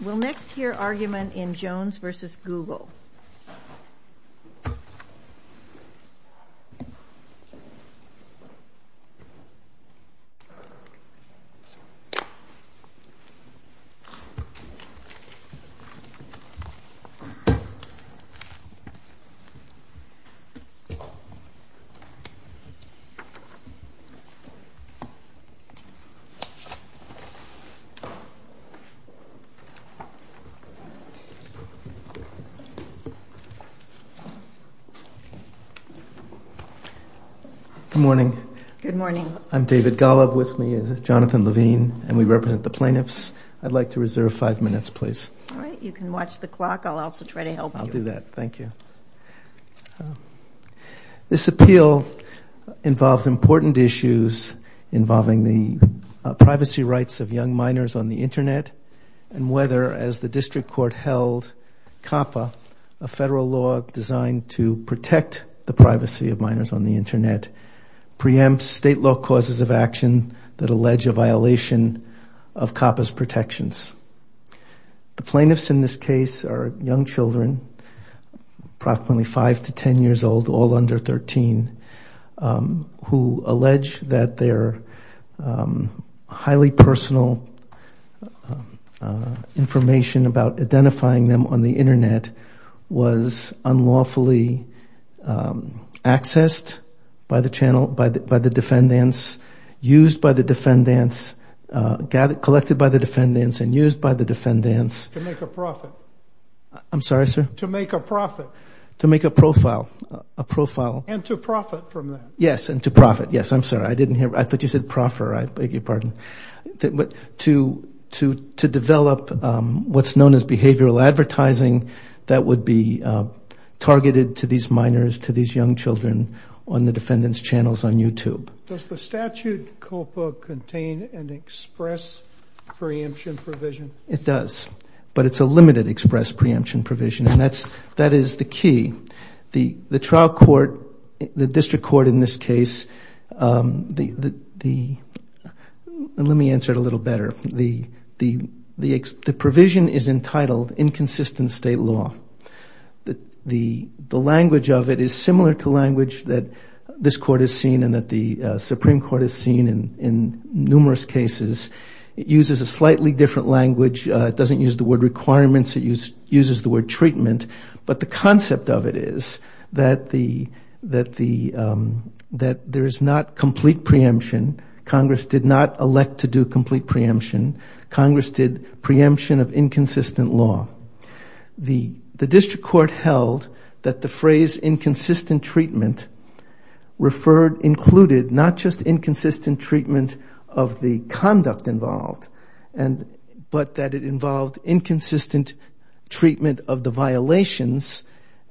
We'll next hear argument in Jones v. Google. David Golub, Plaintiffs' Appeal This appeal involves important issues involving the privacy rights of young minors on the internet and whether, as the district court held, COPPA, a federal law designed to protect the privacy of minors on the internet, preempts state law causes of action that allege a violation of COPPA's protections. The plaintiffs in this case are young children, approximately five to ten years old, all under thirteen, who allege that their highly personal information about identifying them on the internet was unlawfully accessed by the channel, by the defendants, used by the defendants, collected by the defendants, and used by the defendants. To make a profit. I'm sorry, sir? To make a profit. To make a profile. A profile. And to profit from that. Yes, and to profit. Yes, I'm sorry. I didn't hear. I thought you said proffer. I beg your pardon. To develop what's known as behavioral advertising that would be targeted to these minors, to these young children, on the defendants' channels on YouTube. Does the statute COPPA contain an express preemption provision? It does. But it's a limited express preemption provision. And that is the key. The trial court, the district court in this case, let me answer it a little better. The provision is entitled inconsistent state law. The language of it is similar to language that this court has seen and that the Supreme Court has seen in numerous cases. It uses a slightly different language. It doesn't use the word requirements. It uses the word treatment. But the concept of it is that there is not complete preemption. Congress did not elect to do complete preemption. Congress did preemption of inconsistent law. The district court held that the phrase inconsistent treatment included not just inconsistent treatment of the conduct involved, but that it involved inconsistent treatment of the violations,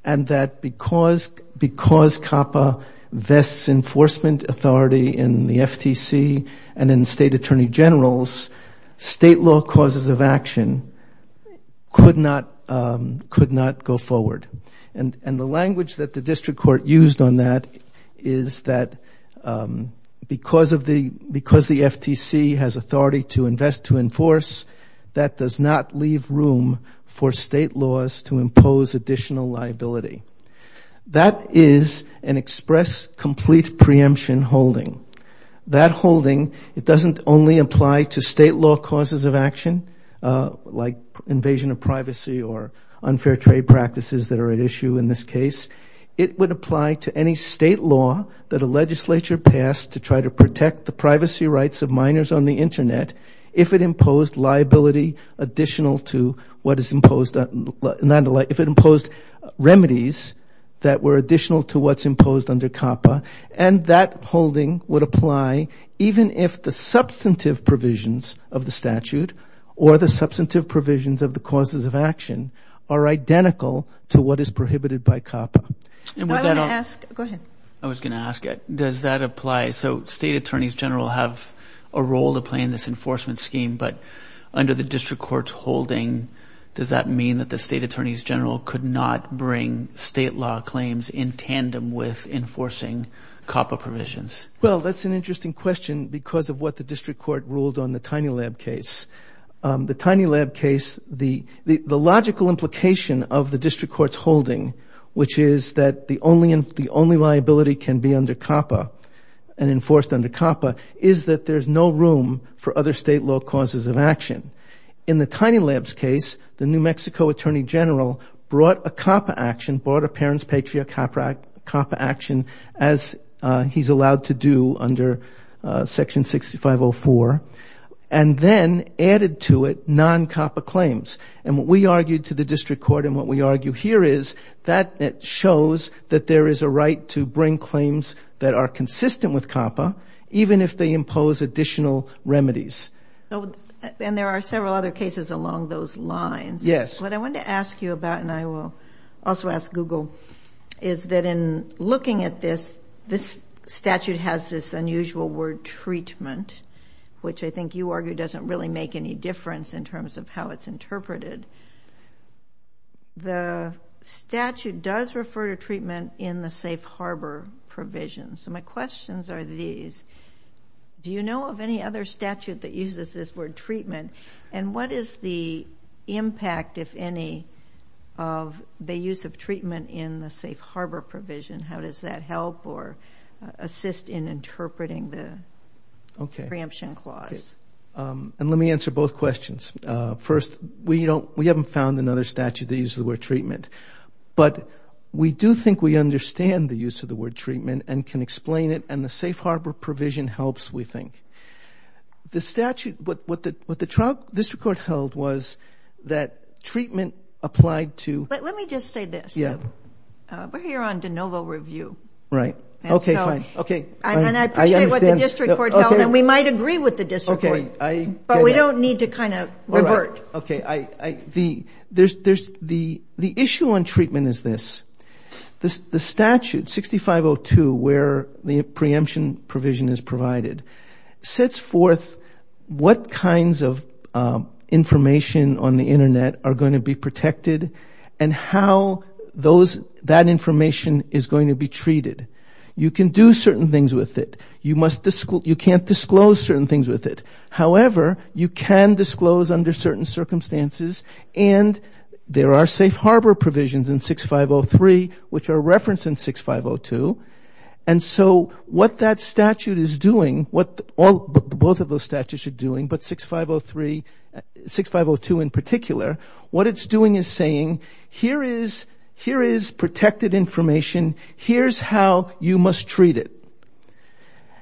and that because COPPA vests enforcement authority in the FTC and in state attorney generals, state law causes of action could not go forward. And the language that the district court used on that is that because the FTC has authority to invest to enforce, that does not leave room for state laws to impose additional liability. That is an express complete preemption holding. That holding, it doesn't only apply to state law causes of action, like invasion of privacy or unfair trade practices that are at issue in this case. It would apply to any state law that a legislature passed to try to protect the Internet if it imposed liability additional to what is imposed, if it imposed remedies that were additional to what's imposed under COPPA. And that holding would apply even if the substantive provisions of the statute or the substantive provisions of the causes of action are identical to what is prohibited by COPPA. I was going to ask it. Does that apply? So state attorneys general have a role to play in this enforcement scheme, but under the district court's holding, does that mean that the state attorneys general could not bring state law claims in tandem with enforcing COPPA provisions? Well, that's an interesting question because of what the district court ruled on the Tiny Lab case. which is that the only liability can be under COPPA and enforced under COPPA is that there's no room for other state law causes of action. In the Tiny Lab's case, the New Mexico attorney general brought a COPPA action, brought a parent's patriarch COPPA action, as he's allowed to do under Section 6504, and then added to it non-COPPA claims. And what we argued to the district court and what we argue here is that it shows that there is a right to bring claims that are consistent with COPPA, even if they impose additional remedies. And there are several other cases along those lines. Yes. What I want to ask you about, and I will also ask Google, is that in looking at this, this statute has this unusual word treatment, which I think you argue doesn't really make any difference in terms of how it's interpreted. The statute does refer to treatment in the safe harbor provision. So my questions are these. Do you know of any other statute that uses this word treatment? And what is the impact, if any, of the use of treatment in the safe harbor provision? How does that help or assist in interpreting the preemption clause? Okay. And let me answer both questions. First, we haven't found another statute that uses the word treatment. But we do think we understand the use of the word treatment and can explain it, and the safe harbor provision helps, we think. The statute, what the district court held was that treatment applied to... Let me just say this. Yeah. We're here on de novo review. Right. Okay, fine. And I appreciate what the district court held, and we might agree with the district court. But we don't need to kind of revert. Okay. The issue on treatment is this. The statute, 6502, where the preemption provision is provided, sets forth what kinds of information on the Internet are going to be protected and how that information is going to be treated. You can do certain things with it. You can't disclose certain things with it. However, you can disclose under certain circumstances, and there are safe harbor provisions in 6503 which are referenced in 6502. And so what that statute is doing, what both of those statutes are doing, but 6502 in particular, what it's doing is saying, here is protected information. Here's how you must treat it.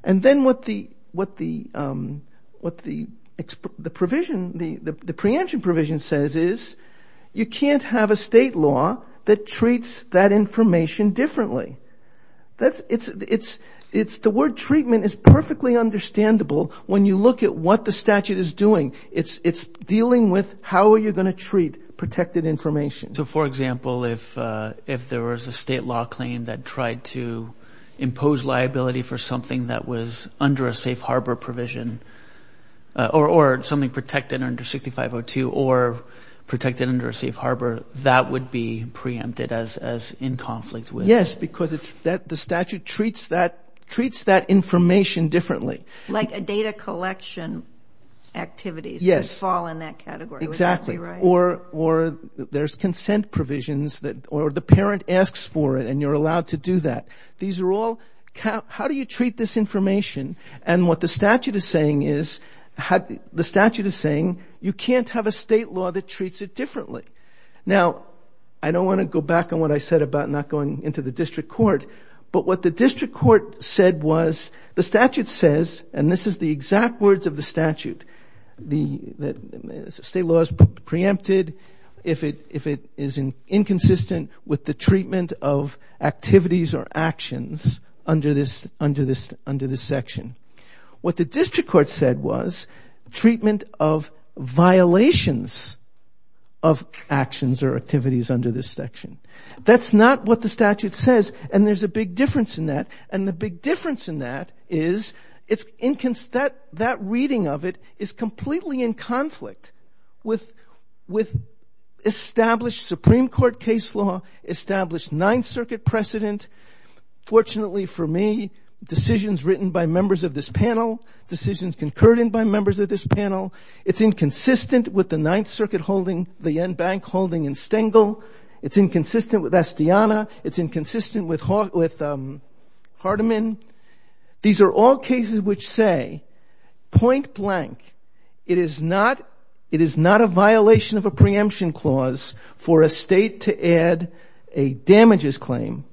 And then what the preemption provision says is you can't have a state law that treats that information differently. The word treatment is perfectly understandable when you look at what the statute is doing. It's dealing with how are you going to treat protected information. So, for example, if there was a state law claim that tried to impose liability for something that was under a safe harbor provision or something protected under 6502 or protected under a safe harbor, that would be preempted as in conflict with? Yes, because the statute treats that information differently. Like a data collection activity would fall in that category. Exactly. Or there's consent provisions or the parent asks for it and you're allowed to do that. These are all how do you treat this information? And what the statute is saying is you can't have a state law that treats it differently. Now, I don't want to go back on what I said about not going into the district court, but what the district court said was the statute says, and this is the exact words of the statute, the state law is preempted if it is inconsistent with the treatment of activities or actions under this section. What the district court said was treatment of violations of actions or activities under this section. That's not what the statute says, and there's a big difference in that. And the big difference in that is that reading of it is completely in conflict with established Supreme Court case law, established Ninth Circuit precedent. Fortunately for me, decisions written by members of this panel, decisions concurred in by members of this panel, it's inconsistent with the Ninth Circuit holding, the NBank holding in Stengel. It's inconsistent with Astiana. It's inconsistent with Hardeman. These are all cases which say, point blank, it is not a violation of a preemption clause for a state to add a damages claim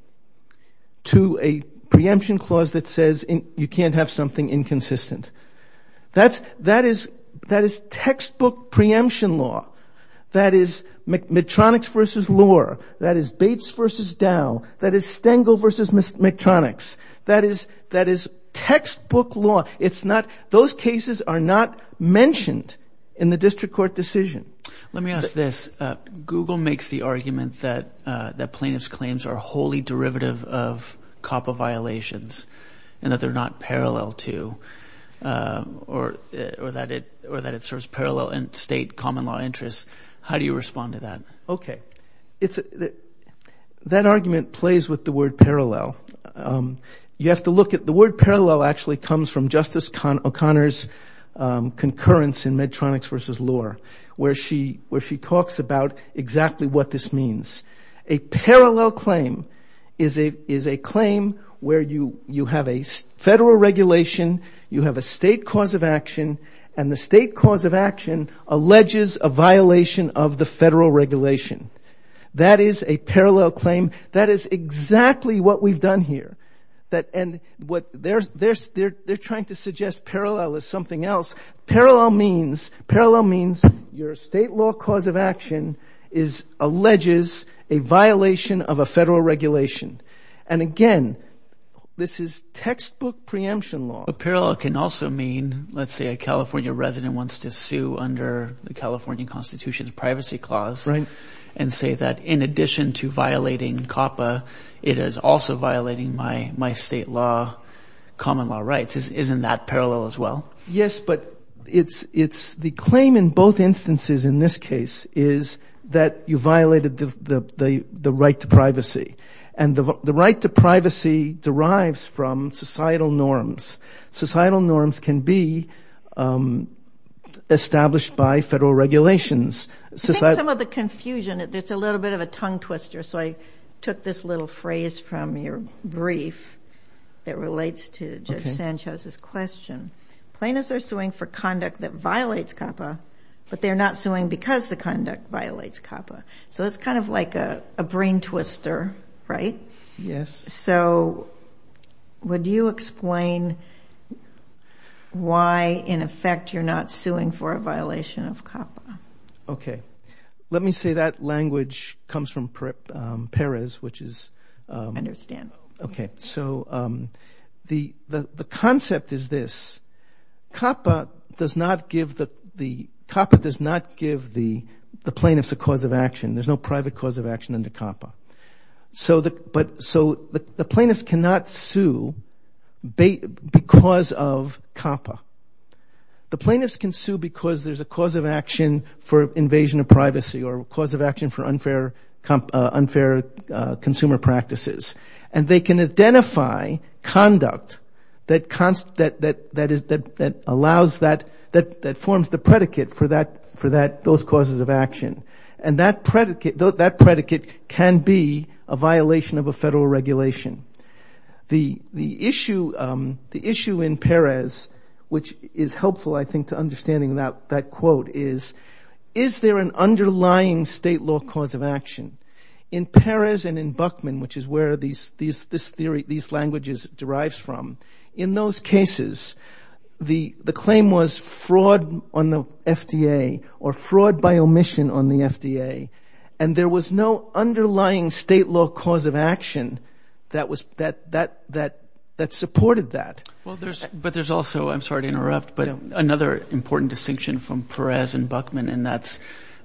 to a preemption clause that says you can't have something inconsistent. That is textbook preemption law. That is Medtronics v. Lohr. That is Bates v. Dow. That is Stengel v. Medtronics. That is textbook law. Those cases are not mentioned in the district court decision. Let me ask this. Google makes the argument that plaintiffs' claims are wholly derivative of COPPA violations and that they're not parallel to or that it serves parallel and state common law interests. How do you respond to that? Okay. That argument plays with the word parallel. You have to look at the word parallel actually comes from Justice O'Connor's concurrence in Medtronics v. Lohr where she talks about exactly what this means. A parallel claim is a claim where you have a federal regulation, you have a state cause of action, and the state cause of action alleges a violation of the federal regulation. That is a parallel claim. That is exactly what we've done here. They're trying to suggest parallel is something else. Parallel means your state law cause of action alleges a violation of a federal regulation. And again, this is textbook preemption law. But parallel can also mean, let's say a California resident wants to sue under the California Constitution's privacy clause and say that in addition to violating COPPA, it is also violating my state law, common law rights. Isn't that parallel as well? Yes, but the claim in both instances in this case is that you violated the right to privacy. And the right to privacy derives from societal norms. Societal norms can be established by federal regulations. I think some of the confusion, it's a little bit of a tongue twister, so I took this little phrase from your brief that relates to Judge Sanchez's question. Plaintiffs are suing for conduct that violates COPPA, but they're not suing because the conduct violates COPPA. So it's kind of like a brain twister, right? Yes. So would you explain why in effect you're not suing for a violation of COPPA? Okay. Let me say that language comes from Perez, which is... I understand. Okay. So the concept is this. COPPA does not give the plaintiffs a cause of action. There's no private cause of action under COPPA. So the plaintiffs cannot sue because of COPPA. The plaintiffs can sue because there's a cause of action for invasion of privacy or a cause of action for unfair consumer practices. And they can identify conduct that forms the predicate for those causes of action. And that predicate can be a violation of a federal regulation. The issue in Perez, which is helpful, I think, to understanding that quote is, is there an underlying state law cause of action? In Perez and in Buckman, which is where these languages derives from, in those cases the claim was fraud on the FDA or fraud by omission on the FDA, and there was no underlying state law cause of action that supported that. Well, but there's also, I'm sorry to interrupt, but another important distinction from Perez and Buckman, and that's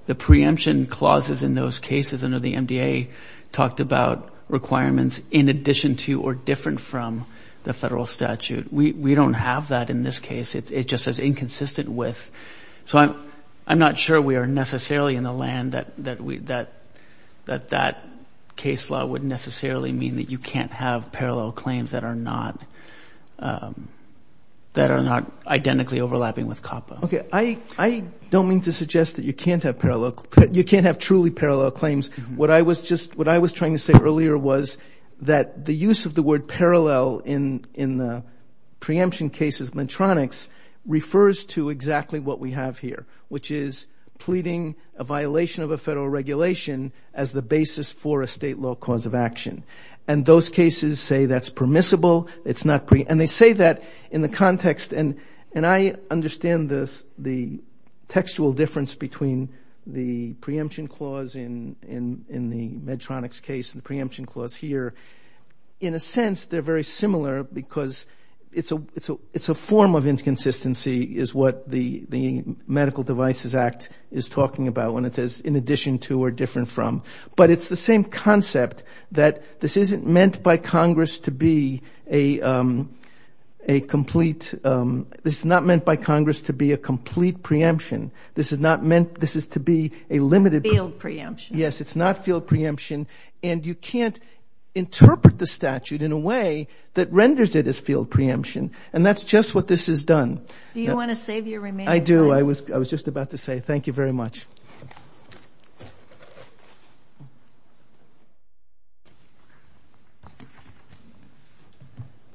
the preemption clauses in those cases under the MDA talked about requirements in addition to or different from the federal statute. We don't have that in this case. It just says inconsistent with. So I'm not sure we are necessarily in the land that that case law would necessarily mean that you can't have parallel claims that are not identically overlapping with COPPA. Okay. I don't mean to suggest that you can't have truly parallel claims. What I was trying to say earlier was that the use of the word parallel in the preemption cases, Medtronics, refers to exactly what we have here, which is pleading a violation of a federal regulation as the basis for a state law cause of action. And those cases say that's permissible. And they say that in the context, and I understand the textual difference between the preemption clause in the Medtronics case and the preemption clause here. In a sense, they're very similar because it's a form of inconsistency, is what the Medical Devices Act is talking about when it says in addition to or different from. But it's the same concept that this isn't meant by Congress to be a complete, this is not meant by Congress to be a complete preemption. This is to be a limited. Field preemption. Yes, it's not field preemption. And you can't interpret the statute in a way that renders it as field preemption. And that's just what this has done. Do you want to save your remaining time? I do. I was just about to say thank you very much.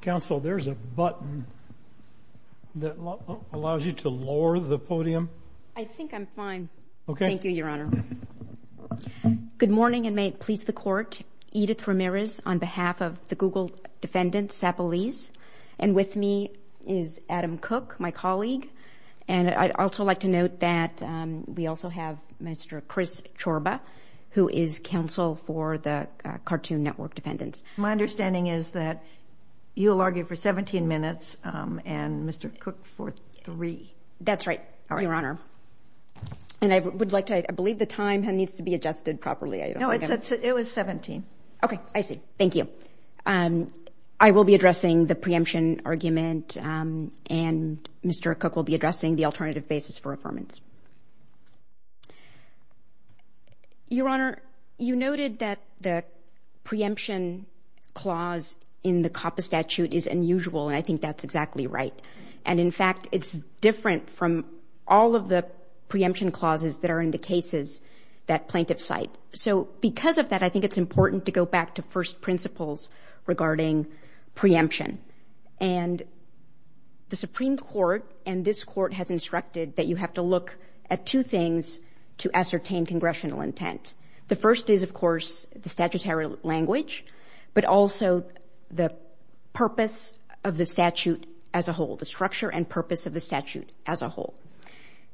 Counsel, there's a button that allows you to lower the podium. I think I'm fine. Okay. Thank you, Your Honor. Good morning, and may it please the Court. Edith Ramirez on behalf of the Google Defendant, Sapolis. And with me is Adam Cook, my colleague. And I'd also like to note that we also have Mr. Chris Chorba, who is counsel for the Cartoon Network Defendants. My understanding is that you'll argue for 17 minutes and Mr. Cook for three. That's right, Your Honor. And I would like to – I believe the time needs to be adjusted properly. No, it was 17. Okay. I see. Thank you. I will be addressing the preemption argument, and Mr. Cook will be addressing the alternative basis for affirmance. Your Honor, you noted that the preemption clause in the COPPA statute is unusual, and I think that's exactly right. And, in fact, it's different from all of the preemption clauses that are in the cases that plaintiffs cite. So because of that, I think it's important to go back to first principles regarding preemption. And the Supreme Court and this Court has instructed that you have to look at two things to ascertain congressional intent. The first is, of course, the statutory language, but also the purpose of the statute as a whole. The structure and purpose of the statute as a whole.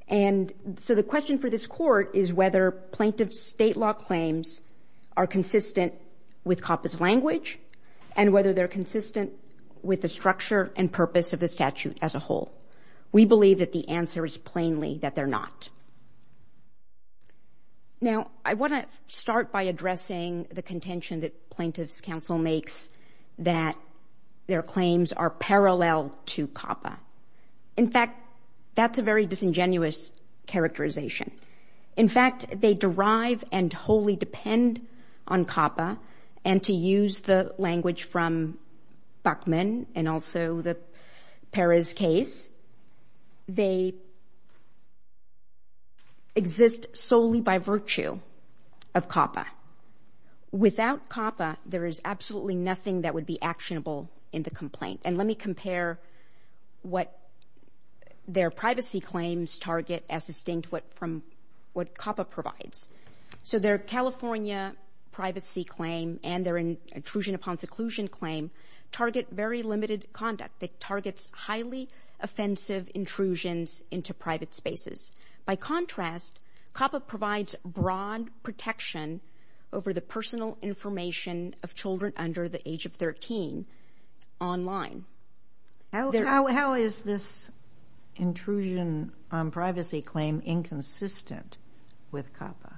And so the question for this Court is whether plaintiff's state law claims are consistent with COPPA's language, and whether they're consistent with the structure and purpose of the statute as a whole. We believe that the answer is plainly that they're not. Now, I want to start by addressing the contention that plaintiff's counsel makes that their claims are parallel to COPPA. In fact, that's a very disingenuous characterization. In fact, they derive and wholly depend on COPPA, and to use the language from Buckman and also the Perez case, they exist solely by virtue of COPPA. Now, without COPPA, there is absolutely nothing that would be actionable in the complaint. And let me compare what their privacy claims target as distinct from what COPPA provides. So their California privacy claim and their intrusion upon seclusion claim target very limited conduct. It targets highly offensive intrusions into private spaces. By contrast, COPPA provides broad protection over the personal information of children under the age of 13 online. How is this intrusion on privacy claim inconsistent with COPPA?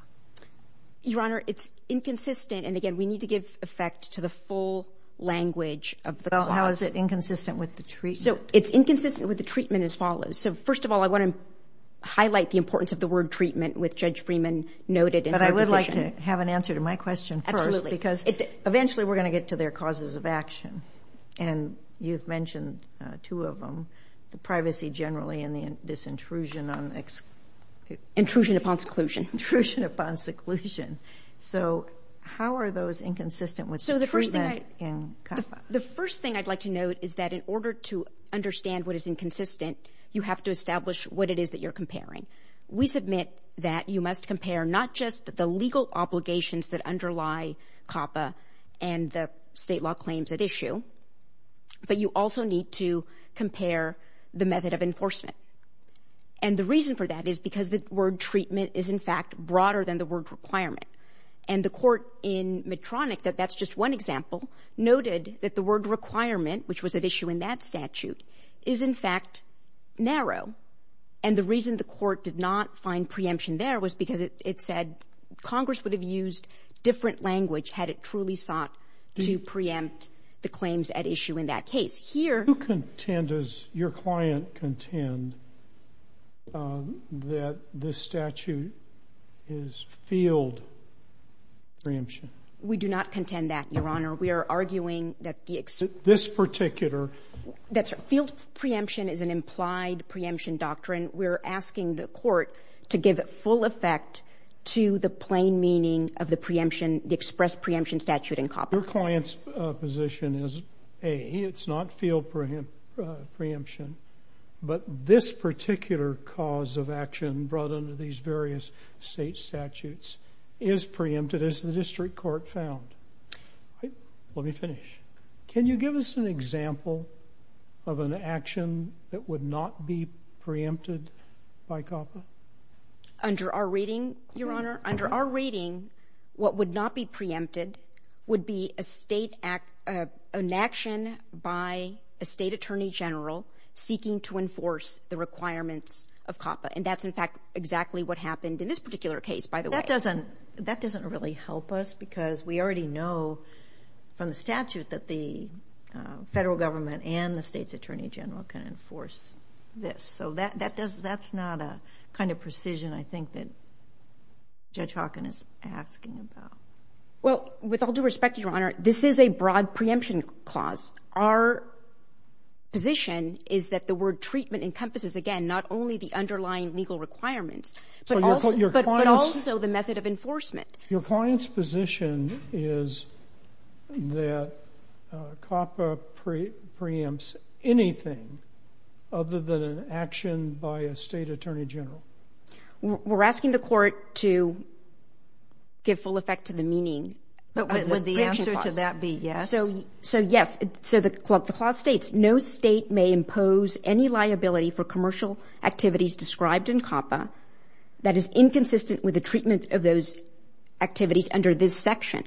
Your Honor, it's inconsistent, and again, we need to give effect to the full language of the clause. Well, how is it inconsistent with the treatment? So it's inconsistent with the treatment as follows. So first of all, I want to highlight the importance of the word treatment with Judge Freeman noted in her position. But I would like to have an answer to my question first. Absolutely. Because eventually we're going to get to their causes of action, and you've mentioned two of them, the privacy generally and this intrusion on... Intrusion upon seclusion. Intrusion upon seclusion. So how are those inconsistent with the treatment in COPPA? The first thing I'd like to note is that in order to understand what is inconsistent, you have to establish what it is that you're comparing. We submit that you must compare not just the legal obligations that underlie COPPA and the state law claims at issue, but you also need to compare the method of enforcement. And the reason for that is because the word treatment is in fact broader than the word requirement. And the court in Medtronic, that's just one example, noted that the word requirement, which was at issue in that statute, is in fact narrow. And the reason the court did not find preemption there was because it said Congress would have used different language had it truly sought to preempt the claims at issue in that case. Who contend, does your client contend, that this statute is field preemption? We do not contend that, Your Honor. We are arguing that the... This particular... Field preemption is an implied preemption doctrine. We're asking the court to give full effect to the plain meaning of the preemption, the expressed preemption statute in COPPA. Your client's position is A, it's not field preemption, but this particular cause of action brought under these various state statutes is preempted as the district court found. Let me finish. Can you give us an example of an action that would not be preempted by COPPA? Under our reading, Your Honor, under our reading, what would not be preempted would be an action by a state attorney general seeking to enforce the requirements of COPPA. And that's in fact exactly what happened in this particular case, by the way. That doesn't really help us because we already know from the statute that the federal government and the state's attorney general can enforce this. So that's not a kind of precision, I think, that Judge Hawken is asking about. Well, with all due respect, Your Honor, this is a broad preemption clause. Our position is that the word treatment but also the method of enforcement. Your client's position is that COPPA preempts anything other than an action by a state attorney general. We're asking the court to give full effect to the meaning. But would the answer to that be yes? So yes. So the clause states, no state may impose any liability for commercial activities described in COPPA that is inconsistent with the treatment of those activities under this section.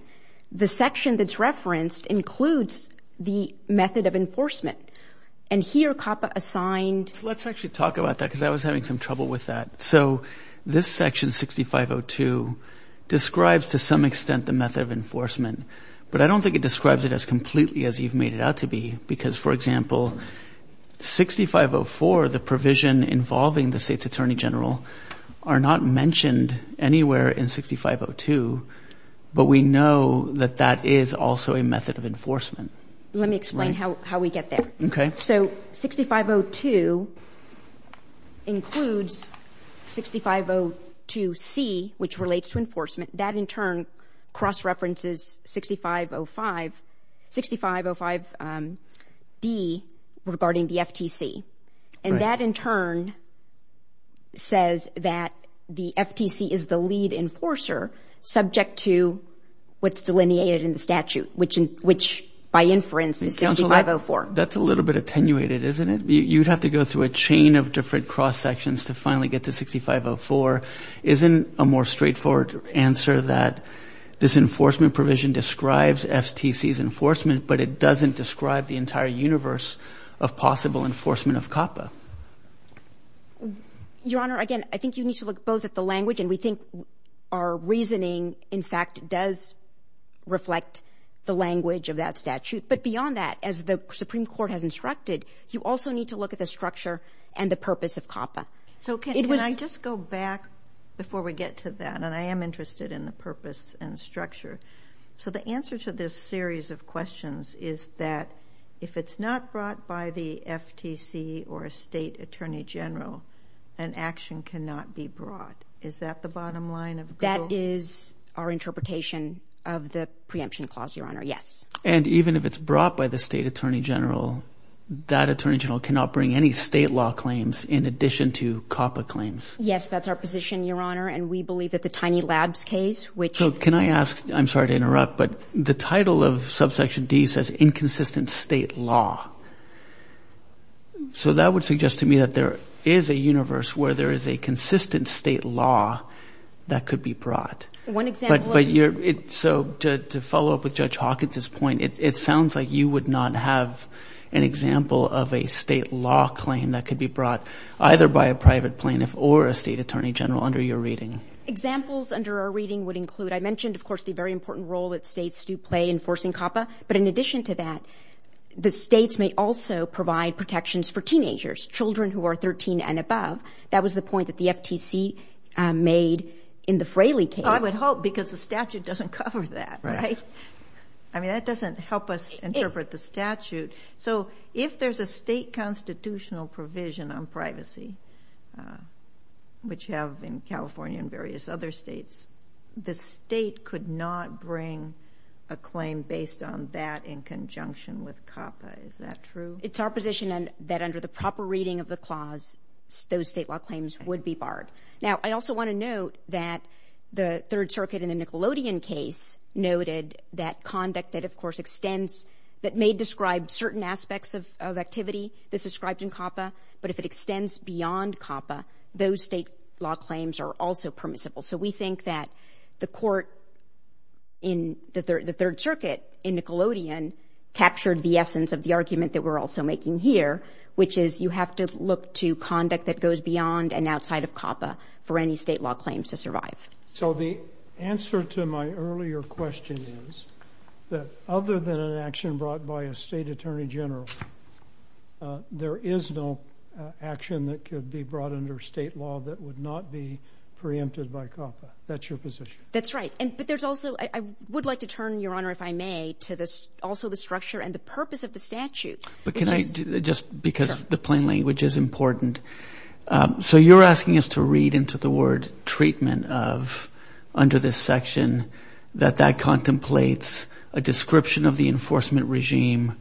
The section that's referenced includes the method of enforcement. And here COPPA assigned... So let's actually talk about that because I was having some trouble with that. So this section, 6502, describes to some extent the method of enforcement. But I don't think it describes it as completely as you've made it out to be because, for example, 6504, the provision involving the state's attorney general are not mentioned anywhere in 6502. But we know that that is also a method of enforcement. Let me explain how we get there. Okay. So 6502 includes 6502C, which relates to enforcement. That in turn cross-references 6505, 6505D regarding the FTC. And that, in turn, says that the FTC is the lead enforcer subject to what's delineated in the statute, which by inference is 6504. That's a little bit attenuated, isn't it? You'd have to go through a chain of different cross-sections to finally get to 6504. Isn't a more straightforward answer that this enforcement provision describes FTC's enforcement, but it doesn't describe the entire universe of possible enforcement of COPPA? Your Honor, again, I think you need to look both at the language and we think our reasoning, in fact, does reflect the language of that statute. But beyond that, as the Supreme Court has instructed, you also need to look at the structure and the purpose of COPPA. So can I just go back before we get to that? And I am interested in the purpose and structure. So the answer to this series of questions is that if it's not brought by the FTC or a state attorney general, an action cannot be brought. Is that the bottom line of the bill? That is our interpretation of the preemption clause, Your Honor, yes. And even if it's brought by the state attorney general, that attorney general cannot bring any state law claims in addition to COPPA claims? Yes, that's our position, Your Honor, So can I ask, I'm sorry to interrupt, but the title of subsection D says inconsistent state law. So that would suggest to me that there is a universe where there is a consistent state law that could be brought. One example... So to follow up with Judge Hawkins' point, it sounds like you would not have an example of a state law claim that could be brought either by a private plaintiff or a state attorney general under your reading. Examples under our reading would include, I mentioned, of course, the very important role that states do play in forcing COPPA. But in addition to that, the states may also provide protections for teenagers, children who are 13 and above. That was the point that the FTC made in the Fraley case. I would hope, because the statute doesn't cover that, right? I mean, that doesn't help us interpret the statute. So if there's a state constitutional provision on privacy, which you have in California and various other states, the state could not bring a claim based on that in conjunction with COPPA. Is that true? It's our position that under the proper reading of the clause, those state law claims would be barred. Now, I also want to note that the Third Circuit in the Nickelodeon case noted that conduct that, of course, extends, that may describe certain aspects of activity that's described in COPPA, but if it extends beyond COPPA, those state law claims are also permissible. So I think that the court in the Third Circuit in Nickelodeon captured the essence of the argument that we're also making here, which is you have to look to conduct that goes beyond and outside of COPPA for any state law claims to survive. So the answer to my earlier question is that other than an action brought by a state attorney general, there is no action that could be brought under state law that would not be preempted by COPPA. That's the position. That's right. But there's also, I would like to turn, Your Honor, if I may, to also the structure and the purpose of the statute. But can I just, because the plain language is important. So you're asking us to read into the word treatment of, under this section, that that contemplates a description of the enforcement regime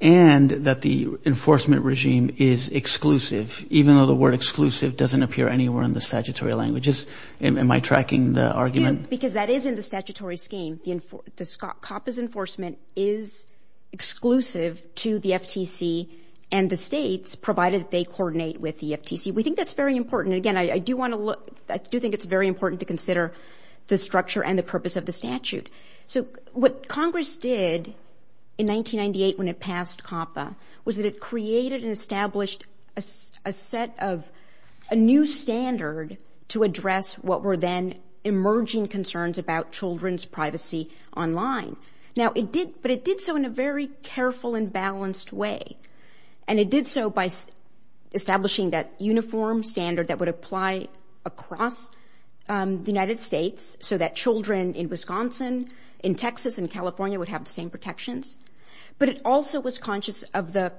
and that the enforcement regime is exclusive, even though the word exclusive doesn't appear anywhere in the statutory languages. Am I tracking the argument? Because that is in the statutory scheme. COPPA's enforcement is exclusive to the FTC and the states, provided they coordinate with the FTC. We think that's very important. Again, I do want to look, I do think it's very important to consider the structure and the purpose of the statute. So what Congress did in 1998 when it passed COPPA was that it created and established a set of, a new standard to address what were then emerging concerns about children's privacy online. Now it did, but it did so in a very careful and balanced way. And it did so by establishing that uniform standard that would apply across the United States so that children in Wisconsin, in Texas, in California would have the same protections. But it also was conscious of the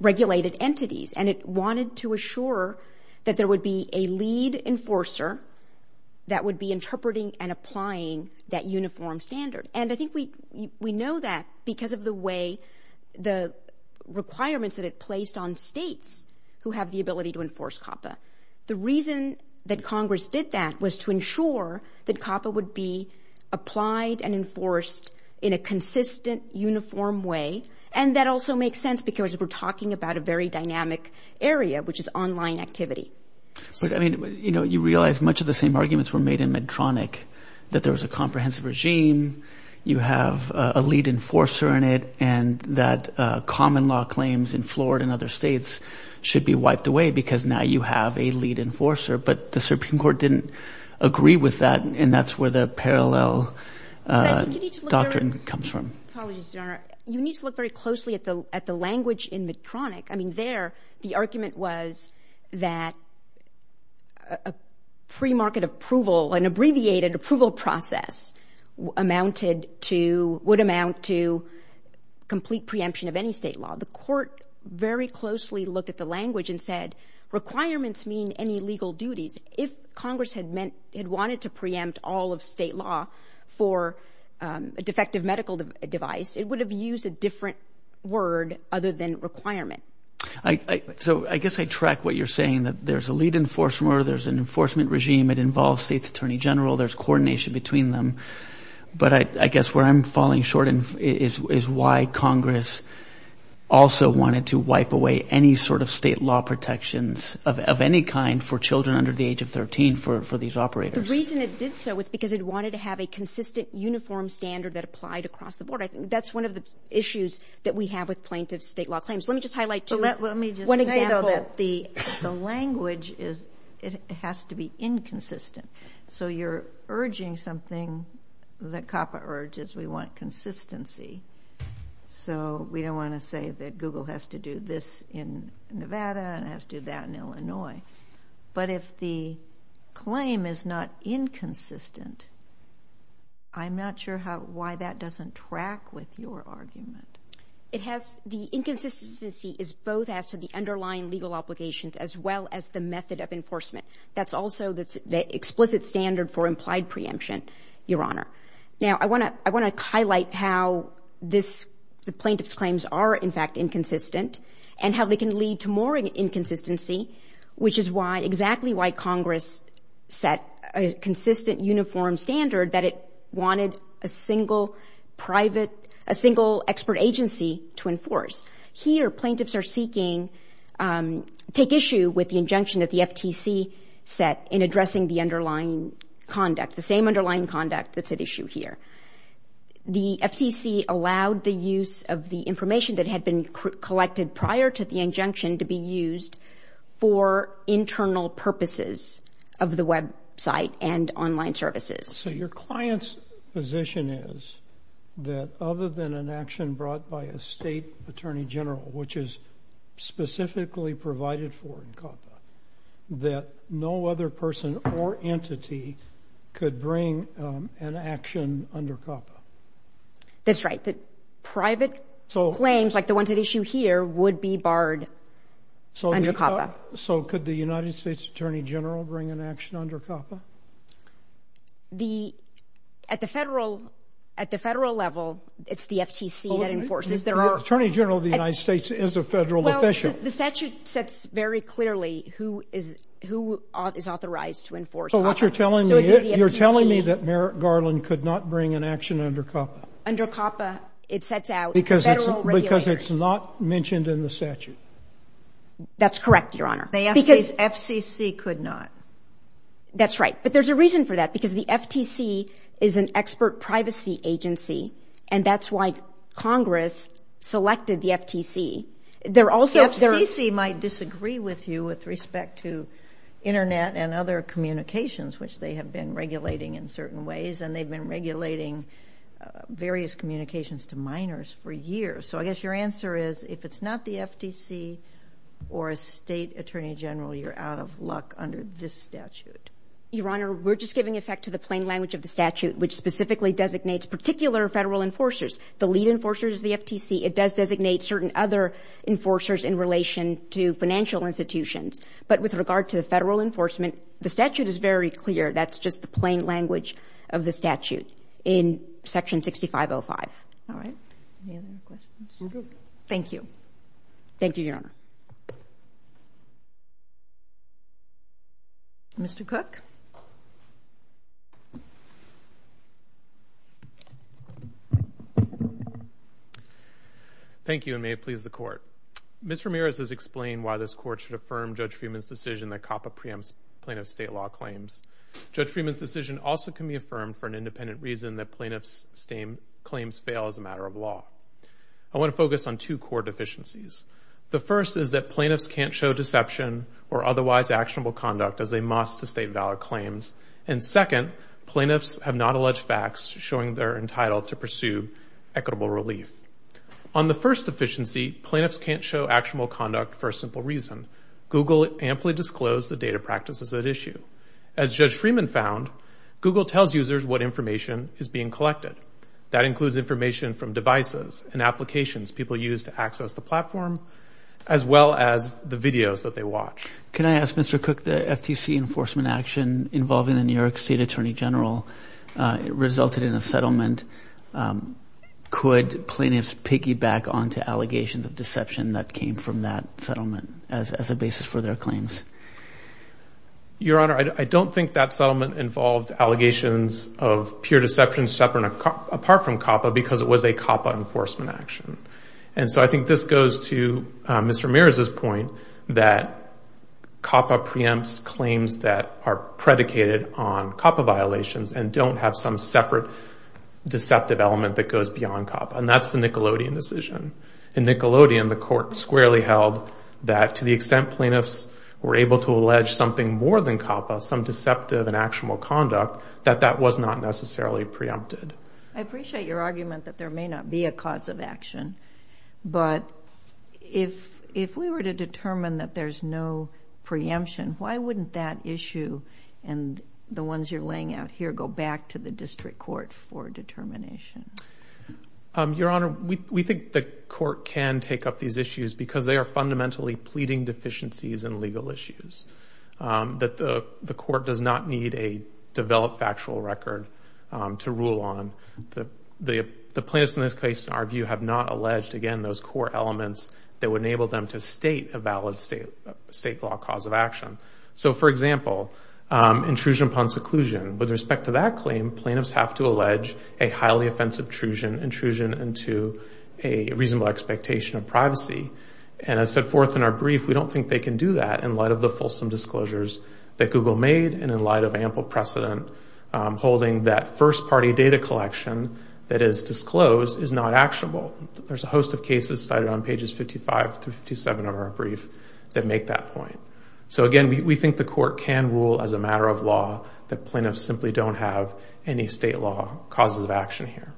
regulated entities and it wanted to assure that there would be a lead enforcer that would be interpreting and applying that uniform standard. And I think we know that because of the way the requirements that it placed on states who have the ability to enforce COPPA. The reason that Congress did that was to ensure that COPPA would be applied and enforced in a consistent uniform way. And that also makes sense because we're talking about a very dynamic area which is online activity. But, I mean, you realize much of the same arguments were made in Medtronic that there was a comprehensive regime, you have a lead enforcer in it, and that common law claims in Florida and other states should be wiped away because now you have a lead enforcer. But the Supreme Court didn't agree with that and that's where the parallel doctrine comes from. Apologies, Your Honor. You need to look very closely at the language in Medtronic. I mean, there, the argument was that a premarket approval, an abbreviated approval process amounted to, would amount to complete preemption of any state law. The court very closely looked at the language and said, requirements mean any legal duties. If Congress had meant, had wanted to preempt all of state law for a defective medical device, it would have used a different word other than requirement. So, I guess I track what you're saying that there's a lead enforcer, there's an enforcement regime, it involves the State's Attorney General, there's coordination between them. But I guess where I'm falling short is why Congress also wanted to wipe away any sort of state law protections of any kind for children under the age of 13 for these operators. The reason it did so was because it wanted to have a consistent uniform standard that applied across the board. That's one of the issues that we have with plaintiff state law claims. Let me just highlight to you one example. Let me just say, though, that the language has to be inconsistent. So, you're urging something that COPPA urges. We want consistency. So, we don't want to say that Google has to do this in Nevada and has to do that in Illinois. But if the claim is not inconsistent, I'm not sure why that doesn't track with your argument. It has, the inconsistency is both as to the underlying legal obligations as well as the method of enforcement. That's also the explicit standard for implied preemption, Your Honor. Now, I want to highlight how this, the plaintiff's claims are, in fact, inconsistent and how they can lead to more inconsistency, which is why, exactly why Congress set a consistent uniform standard that it wanted a single private, a single expert agency to enforce. Here, plaintiffs are seeking, take issue with the injunction that the FTC set in addressing the underlying conduct, the same underlying conduct that's at issue here. The FTC allowed the use of the information that had been collected prior to the injunction to be used for internal purposes of the website and online services. So, your client's position is that other than an action brought by a state attorney general, which is specifically provided for in COPPA, that no other person or entity could bring an action under COPPA? That's right. That private claims, like the one at issue here, would be barred under COPPA. So, could the United States attorney general bring an action under COPPA? The, at the federal, at the federal level, it's the FTC that enforces. Attorney general of the United States is a federal official. Well, the statute sets very clearly who is, who is authorized to enforce COPPA. So, what you're telling me, you're telling me that Merrick Garland could not bring an action under COPPA. Under COPPA, it sets out federal regulators. Because it's not mentioned in the statute. That's correct, Your Honor. The FCC could not. That's right. But there's a reason for that, because the FTC is an expert privacy agency. And that's why selected the FTC. There also, FCC might disagree with you with respect to internet and other communications, which they have been regulating in certain ways. And they've been regulating various communications to minors for years. So, I guess your answer is, if it's not the FTC, or a state attorney general, you're out of luck under this statute. Your Honor, we're just giving effect to the plain language of the statute, which specifically designates particular federal enforcers. The lead enforcer is the FTC. It does designate certain other enforcers in relation to financial institutions. But with regard to the federal enforcement, the statute is very clear. plain language of the statute in Section 6505. All right. Any other questions? Thank you. Thank you, Your Honor. Mr. Cook? Thank you, and may it please the Court. Ms. Ramirez has explained why this Court should affirm Judge Freeman's decision that COPPA preempts plaintiff state law claims. Judge Freeman's decision also can be affirmed for an independent reason that plaintiff's claims fail as a matter of law. I want to focus on two core deficiencies. The first is that plaintiffs can't show deception or otherwise actionable conduct as they must to state valid claims. And second, plaintiffs have not alleged facts showing they're entitled to pursue equitable relief. On the first deficiency, plaintiffs can't show actionable conduct for a simple reason. Google amply disclosed the data practices at issue. As Judge Freeman found, Google tells users what information is being collected. That includes information from devices and applications people use to access the platform as well as the videos that they watch. Can I ask Mr. Cook, the FTC enforcement action involving the New York State Attorney General resulted in a settlement. Could plaintiffs piggyback on to allegations of deception that came from that settlement as a basis for their claims? Your Honor, I don't think that settlement involved allegations of pure deception separate apart from COPPA because it was a settlement. And so I think this goes to Mr. Mears' point that COPPA preempts claims that are predicated on COPPA violations and don't have some separate deceptive element that goes beyond COPPA. And that's the Nickelodeon decision. In Nickelodeon, the court squarely held that to the extent plaintiffs were able to allege something more than COPPA, some deceptive and actionable conduct, that that was not necessarily preempted. I appreciate your point, but if we were to determine that there's no preemption, why wouldn't that issue and the ones you're laying out here go back to the district court for determination? Your Honor, we think the court can take up these issues because they are fundamentally pleading deficiencies in legal issues. That the court does not need a developed factual record to rule on. The plaintiffs in this case, in our view, have not alleged again those core elements that would enable them to state a valid state law cause of action. For example, intrusion upon seclusion. With respect to that claim, plaintiffs have to allege a highly offensive intrusion into a reasonable expectation of privacy. As set forth in our brief, we don't think they can do that in light of the fulsome disclosures that Google made and in light of ample precedent holding that a host of cases cited on pages 55 through 57 of our brief that make that point. So again, we think the court can rule as a matter of law that plaintiffs simply don't have any state law causes of action here.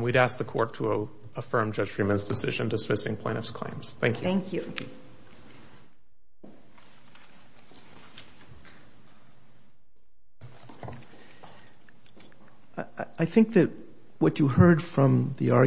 We'd ask the affirm Judge Freeman's decision dismissing plaintiffs' claims. Thank you. Thank you. I think that what you heard from the other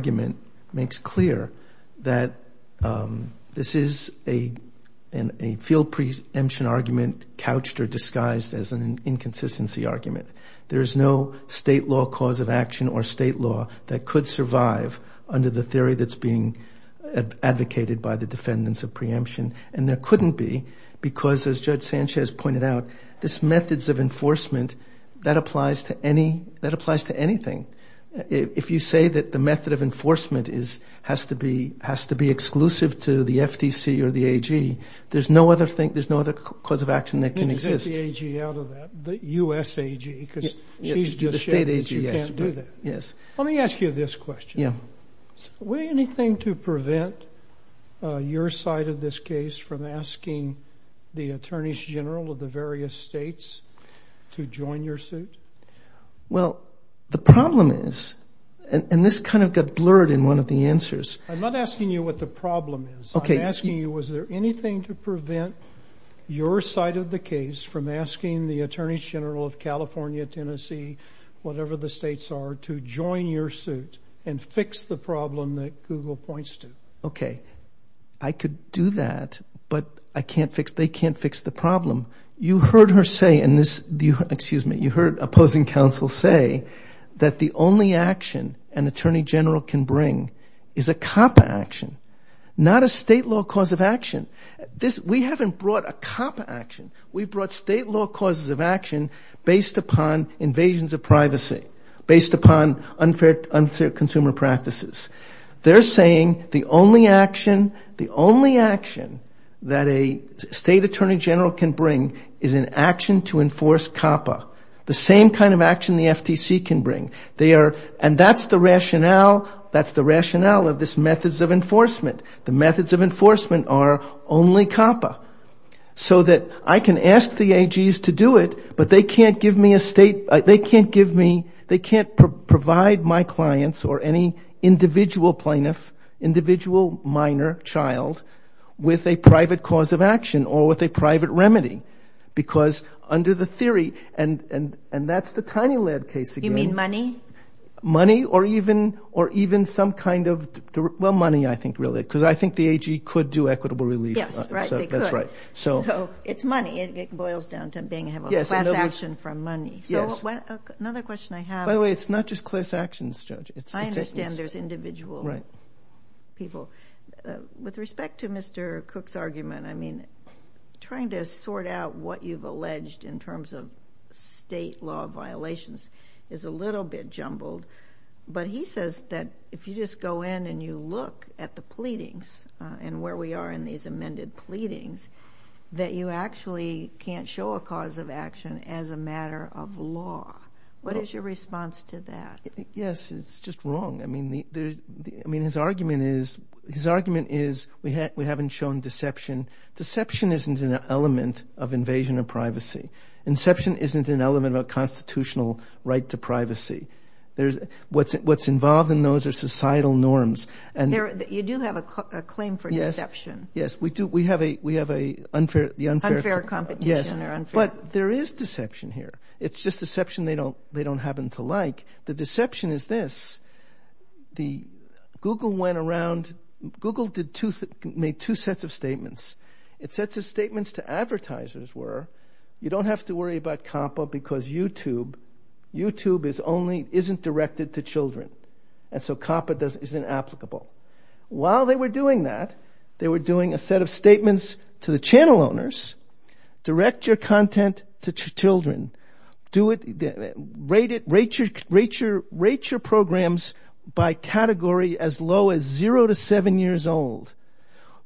plaintiffs is that they believe that content is inapplicable. While they were doing that, they were doing a set of statements to the channel owners, direct your content to children, rate your programs by category as low as zero to seven years old.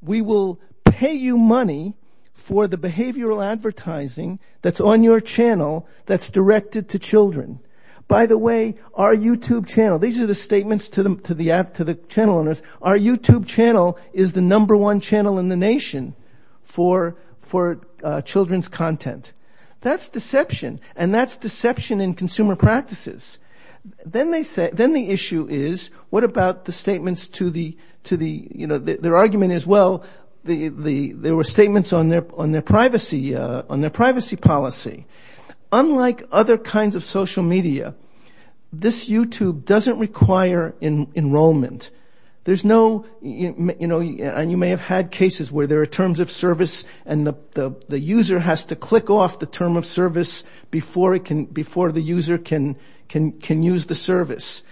We will pay you money for the behavioral advertising that's on your channel that's directed to children. By the way, our YouTube channel, these are the statements to the channel owners, our YouTube channel is the number one channel in the nation for children's content. That's deception. And that's deception in consumer practices. Then the issue is what about the statements to the channel owners. Their argument is well, there were statements on their privacy policy. Unlike other kinds of social media, this YouTube doesn't require enrollment. There's no, you may have had cases where there are terms of service and the user has to click off the term of service before the user can use the service.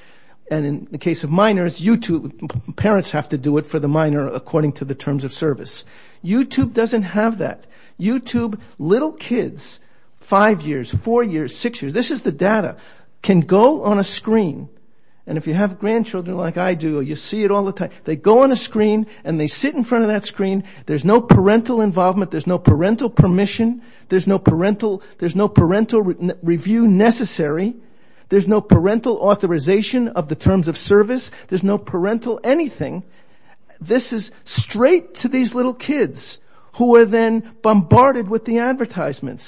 And in the case of minors, YouTube, parents have to do it for the minor according to the terms of service. YouTube doesn't have that. YouTube, little kids, five years, four years, six years, this is the data, can go on a screen. And if you have grandchildren like I do, you see it all the time. They go on a screen, there's no parental involvement, there's no parental permission, there's no parental review necessary, there's no parental authorization of the terms of service, there's no parental anything. This is straight to these little little kids. So grandchildren like I do, you have be able to do it for the parents at least. I don't know if anyone else knows about this, but I put a lot of this and I think it's very well briefed for both sides. We acknowledge that you're here. We knew you were here talking to the clerk. Thank you very much. Again, Jones versus Google is a well briefed. Thank you. Thank you. Thank you. Thank you. Thank you. Thank you. Thank you. Thank you. Thank you. you. Thank Thank you. Thank